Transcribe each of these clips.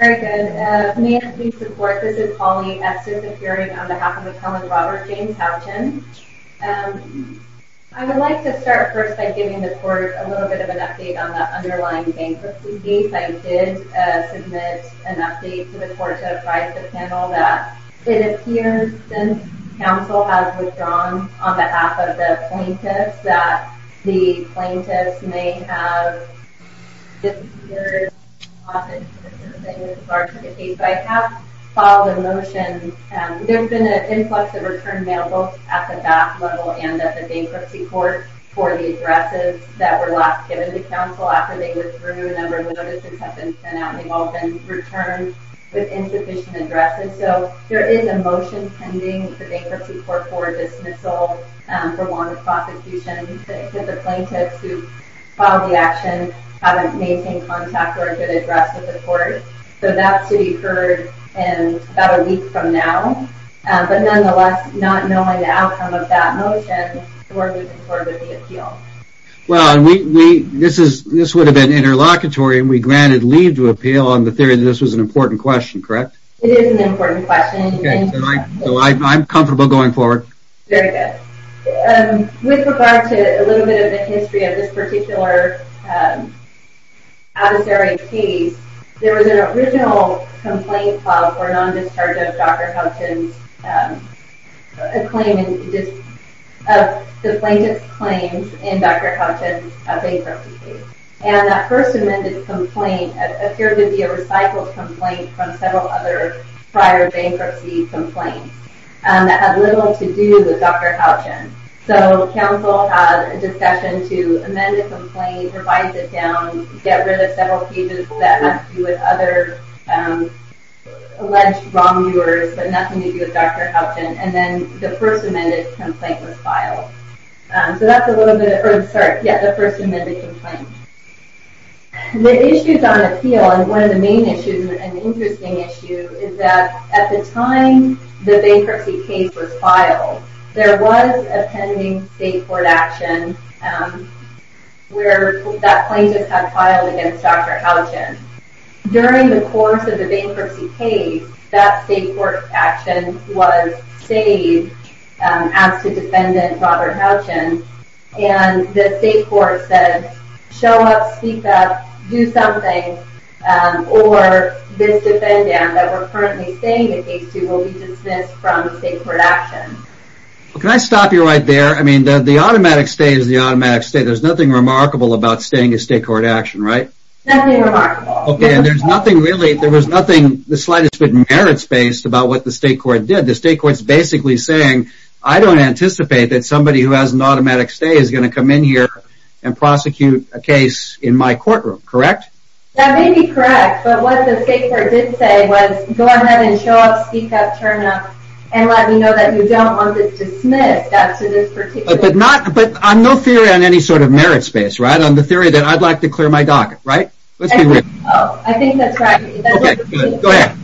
May I please report, this is Holly Estes appearing on behalf of McClellan Robert James Houchin. I would like to start first by giving the court a little bit of an update on the underlying bankruptcy case. I did submit an update to the court to advise the panel that it appears since counsel has withdrawn on behalf of the plaintiffs that the plaintiffs may have disappeared. I have filed a motion, there's been an influx of returned mail both at the BAP level and at the bankruptcy court for the addresses that were last given to counsel after they withdrew. A number of notices have been sent out and they've all been returned with insufficient addresses. So there is a motion pending for bankruptcy court for dismissal for warranted prosecution because the plaintiffs who filed the action haven't maintained contact or a good address with the court. So that's to be heard in about a week from now. But nonetheless, not knowing the outcome of that motion, we're moving forward with the appeal. Well, this would have been interlocutory and we granted leave to appeal on the theory that this was an important question, correct? It is an important question. Okay, so I'm comfortable going forward. Very good. With regard to a little bit of the history of this particular adversary case, there was an original complaint filed for non-discharge of Dr. Houghton's claim, of the plaintiff's claims in Dr. Houghton's bankruptcy case. And that first amended complaint appeared to be a recycled complaint from several other prior bankruptcy complaints that had little to do with Dr. Houghton. So counsel had a discussion to amend the complaint, revise it down, get rid of several pages that have to do with other alleged wrongdoers, but nothing to do with Dr. Houghton. And then the first amended complaint was filed. So that's the first amended complaint. The issues on appeal, and one of the main issues, an interesting issue, is that at the time the bankruptcy case was filed, there was a pending state court action where that plaintiff had filed against Dr. Houghton. During the course of the bankruptcy case, that state court action was stayed as to defendant Robert Houghton. And the state court said, show up, speak up, do something, or this defendant that we're currently staying the case to will be dismissed from state court action. Can I stop you right there? I mean, the automatic stay is the automatic stay. There's nothing remarkable about staying a state court action, right? Nothing remarkable. Okay, and there's nothing really, there was nothing, the slightest bit of merit space about what the state court did. The state court's basically saying, I don't anticipate that somebody who has an automatic stay is going to come in here and prosecute a case in my courtroom, correct? That may be correct, but what the state court did say was, go ahead and show up, speak up, turn up, and let me know that you don't want this dismissed. But not, but on no theory on any sort of merit space, right? On the theory that I'd like to clear my docket, right? Let's be real. Oh, I think that's right. Okay, good, go ahead.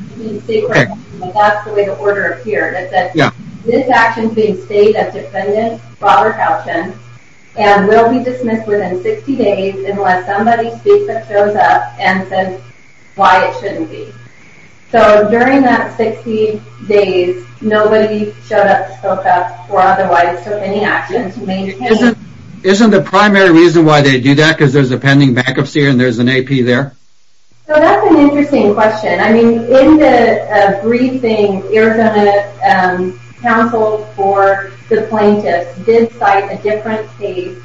That's the way the order appeared. It said, this action being stayed as defendant Robert Houghton and will be dismissed within 60 days unless somebody speaks up, shows up, and says why it shouldn't be. So, during that 60 days, nobody showed up, spoke up, or otherwise took any action to maintain Isn't the primary reason why they do that, because there's a pending bankruptcy and there's an AP there? So, that's an interesting question. I mean, in the briefing, Arizona counsel for the plaintiffs did cite a different case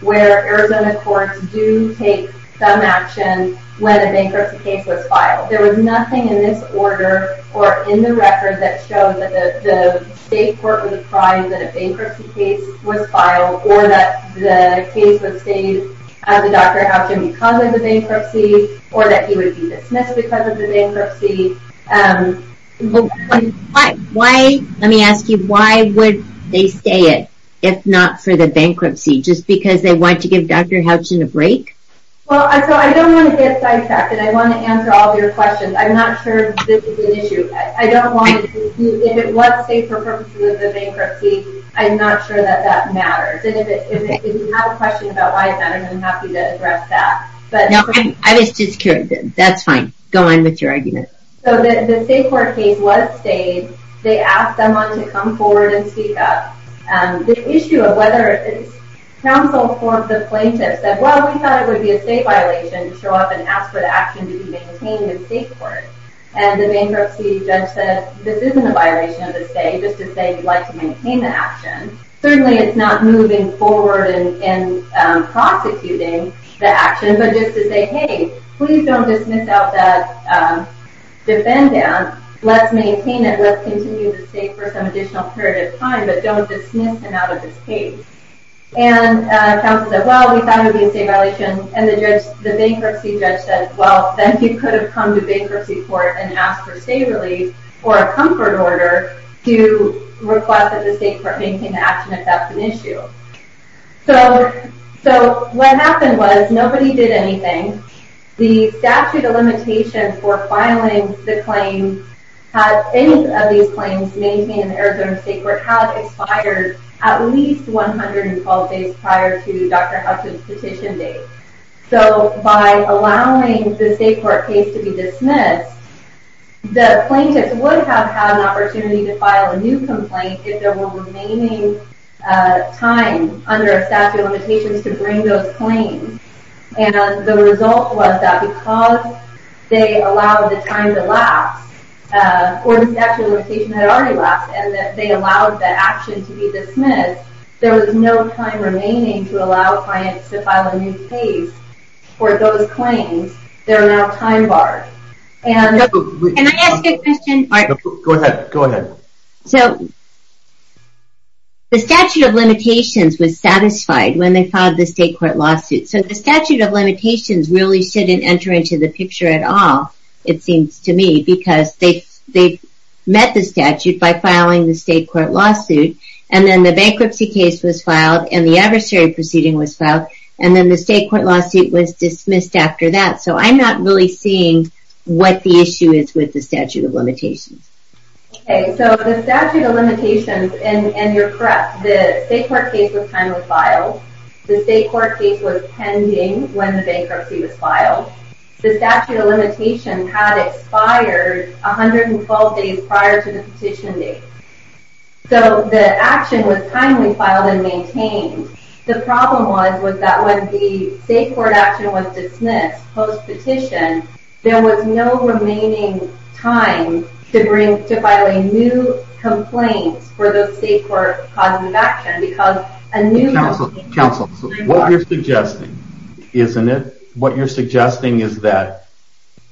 where Arizona courts do take some action when a bankruptcy case was filed. There was nothing in this order or in the record that showed that the state court was inclined that a bankruptcy case was filed or that the case would stay as a Dr. Houghton because of the bankruptcy or that he would be dismissed because of the bankruptcy. Let me ask you, why would they stay it if not for the bankruptcy? Just because they want to give Dr. Houghton a break? Well, I don't want to get sidetracked and I want to answer all of your questions. I'm not sure this is an issue. If it was stayed for purposes of the bankruptcy, I'm not sure that that matters. If you have a question about why it matters, I'm happy to address that. No, I was just curious. That's fine. Go on with your argument. So, the state court case was stayed. They asked someone to come forward and speak up. The issue of whether it's counsel for the plaintiff said, well, we thought it would be a state violation to show up and ask for the action to be maintained in the state court. And the bankruptcy judge said, this isn't a violation of the state, just to say we'd like to maintain the action. Certainly, it's not moving forward and prosecuting the action, but just to say, hey, please don't dismiss out that defendant. Let's maintain it. Let's continue the state for some additional period of time, but don't dismiss him out of his case. And counsel said, well, we thought it would be a state violation. And the bankruptcy judge said, well, then he could have come to bankruptcy court and asked for state relief or a comfort order to request that the state court maintain the action if that's an issue. So, what happened was nobody did anything. The statute of limitations for filing the claim, had any of these claims maintained in Arizona state court, had expired at least 112 days prior to Dr. Hudson's petition date. So, by allowing the state court case to be dismissed, the plaintiff would have had an opportunity to file a new complaint if there were remaining time under a statute of limitations to bring those claims. And the result was that because they allowed the time to last, or the statute of limitations had already lasted, and they allowed the action to be dismissed, there was no time remaining to allow clients to file a new case for those claims. They're now time barred. Can I ask a question? Go ahead. So, the statute of limitations was satisfied when they filed the state court lawsuit. So, the statute of limitations really shouldn't enter into the picture at all, it seems to me, because they met the statute by filing the state court lawsuit, and then the bankruptcy case was filed, and the adversary proceeding was filed, and then the state court lawsuit was dismissed after that. So, I'm not really seeing what the issue is with the statute of limitations. Okay. So, the statute of limitations, and you're correct, the state court case was timely filed. The state court case was pending when the bankruptcy was filed. The statute of limitations had expired 112 days prior to the petition date. So, the action was timely filed and maintained. The problem was that when the state court action was dismissed post-petition, there was no remaining time to file a new complaint for the state court causative action. Counsel, what you're suggesting, isn't it? What you're suggesting is that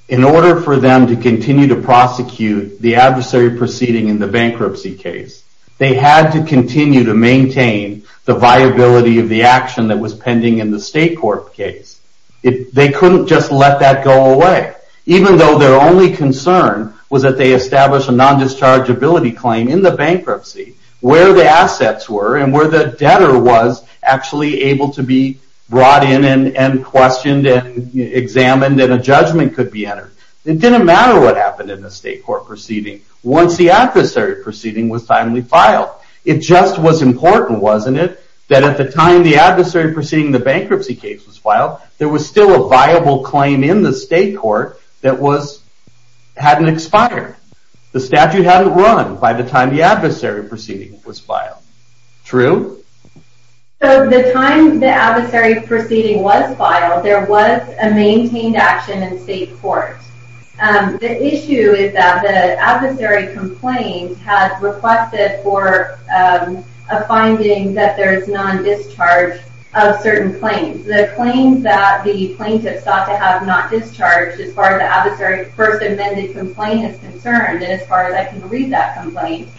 in order for them to continue to prosecute the adversary proceeding in the bankruptcy case, they had to continue to maintain the viability of the action that was pending in the state court case. They couldn't just let that go away, even though their only concern was that they established a non-dischargeability claim in the bankruptcy where the assets were and where the debtor was actually able to be brought in and questioned and examined, and a judgment could be entered. It didn't matter what happened in the state court proceeding. Once the adversary proceeding was finally filed, it just was important, wasn't it, that at the time the adversary proceeding in the bankruptcy case was filed, there was still a viable claim in the state court that hadn't expired. The statute hadn't run by the time the adversary proceeding was filed. True? So, the time the adversary proceeding was filed, there was a maintained action in state court. The issue is that the adversary complaint had requested for a finding that there is non-discharge of certain claims. The claims that the plaintiff sought to have not discharged as far as the adversary first amended complaint is concerned, and as far as I can read that complaint,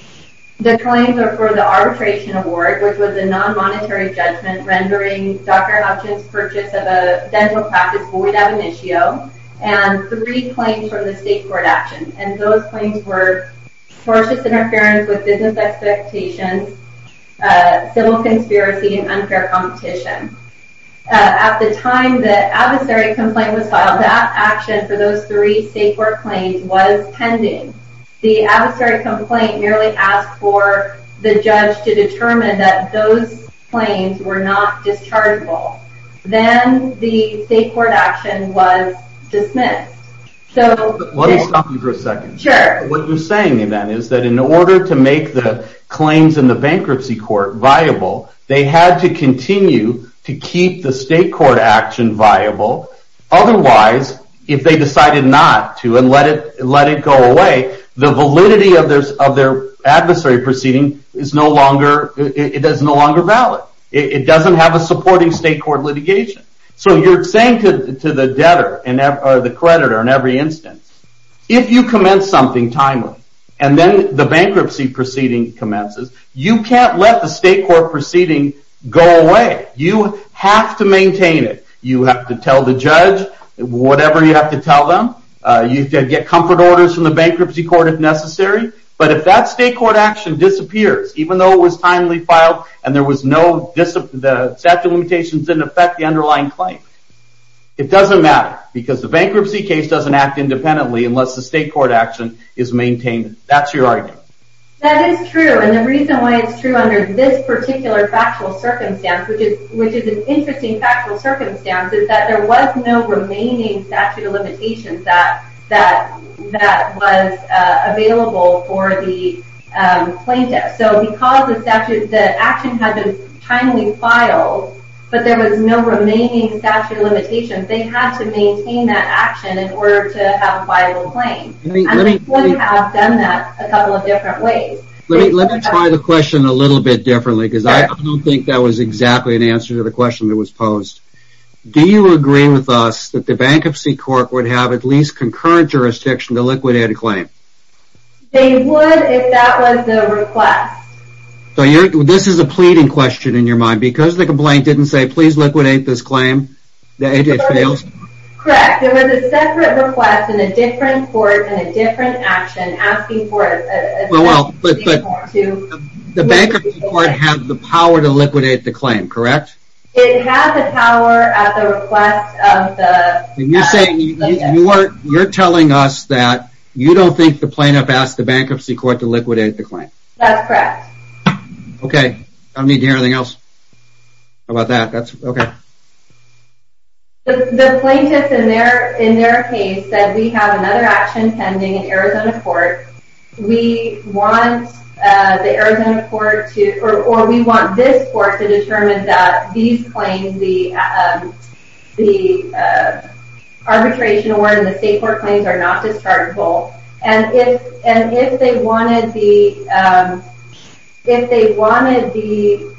the claims are for the arbitration award, which was a non-monetary judgment rendering Dr. Hutchins' purchase of a dental practice void ad initio, and three claims for the state court action, and those claims were tortious interference with business expectations, civil conspiracy, and unfair competition. At the time the adversary complaint was filed, that action for those three state court claims was pending. The adversary complaint merely asked for the judge to determine that those claims were not dischargeable. Then the state court action was dismissed. Let me stop you for a second. Sure. What you're saying then is that in order to make the claims in the bankruptcy court viable, they had to continue to keep the state court action viable. Otherwise, if they decided not to and let it go away, the validity of their adversary proceeding is no longer valid. It doesn't have a supporting state court litigation. So you're saying to the creditor in every instance, if you commence something timely and then the bankruptcy proceeding commences, you can't let the state court proceeding go away. You have to maintain it. You have to tell the judge whatever you have to tell them. You have to get comfort orders from the bankruptcy court if necessary, but if that state court action disappears, even though it was timely filed and the statute of limitations didn't affect the underlying claim, it doesn't matter because the bankruptcy case doesn't act independently unless the state court action is maintained. That's your argument. That is true, and the reason why it's true under this particular factual circumstance, which is an interesting factual circumstance, is that there was no remaining statute of limitations that was available for the plaintiff. So because the action had been timely filed, but there was no remaining statute of limitations, they had to maintain that action in order to have a viable claim. And they would have done that a couple of different ways. Let me try the question a little bit differently, because I don't think that was exactly an answer to the question that was posed. Do you agree with us that the bankruptcy court would have at least concurrent jurisdiction to liquidate a claim? They would if that was the request. So this is a pleading question in your mind. Because the complaint didn't say, please liquidate this claim, it fails? Correct. It was a separate request in a different court in a different action asking for a separate state court to liquidate the claim. The bankruptcy court had the power to liquidate the claim, correct? It had the power at the request of the bankruptcy court. You're telling us that you don't think the plaintiff asked the bankruptcy court to liquidate the claim. That's correct. Okay. I don't need to hear anything else. How about that? The plaintiff in their case said, we have another action pending in Arizona court. We want the Arizona court, or we want this court, to determine that these claims, the arbitration award and the state court claims are not dischargeable. And if they wanted the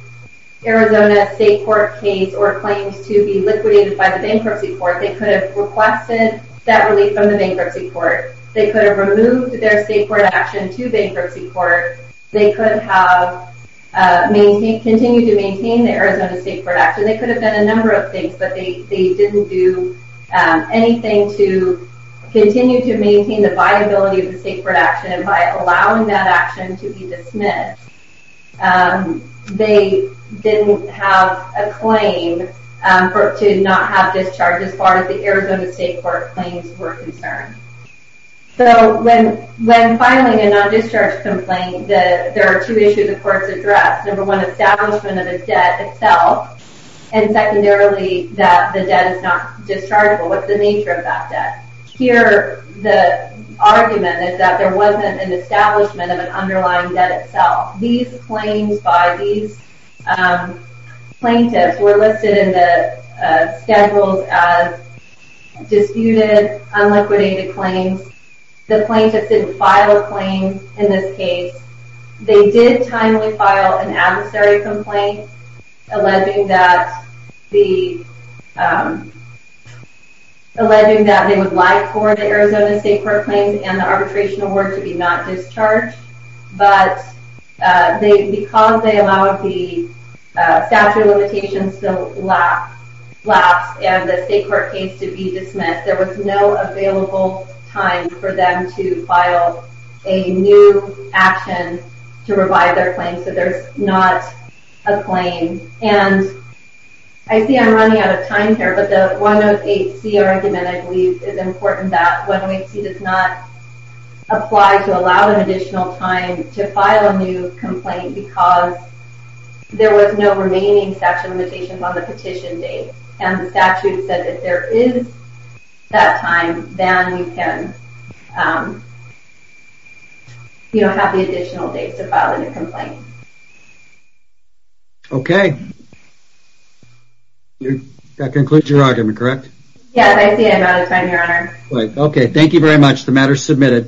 Arizona state court case or claims to be liquidated by the bankruptcy court, they could have requested that relief from the bankruptcy court. They could have removed their state court action to bankruptcy court. They could have continued to maintain the Arizona state court action. They could have done a number of things, but they didn't do anything to continue to maintain the viability of the state court action. And by allowing that action to be dismissed, they didn't have a claim to not have discharge as far as the Arizona state court claims were concerned. So when filing a non-discharge complaint, there are two issues the courts addressed. Number one, establishment of the debt itself. And secondarily, that the debt is not dischargeable. What's the nature of that debt? Here, the argument is that there wasn't an establishment of an underlying debt itself. These claims by these plaintiffs were listed in the schedules as disputed, unliquidated claims. The plaintiffs didn't file a claim in this case. They did timely file an adversary complaint alleging that they would like for the Arizona state court claims and the arbitration award to be not discharged. But because they allowed the statute of limitations to lapse and the state court case to be dismissed, there was no available time for them to file a new action to revive their claim. So there's not a claim. And I see I'm running out of time here, but the 108C argument, I believe, is important that 108C does not apply to allow an additional time to file a new complaint because there was no remaining statute of limitations on the petition date. And the statute said that if there is that time, then you can have the additional date to file a new complaint. Okay. That concludes your argument, correct? Yes, I see I'm out of time, Your Honor. Okay, thank you very much. The matter is submitted.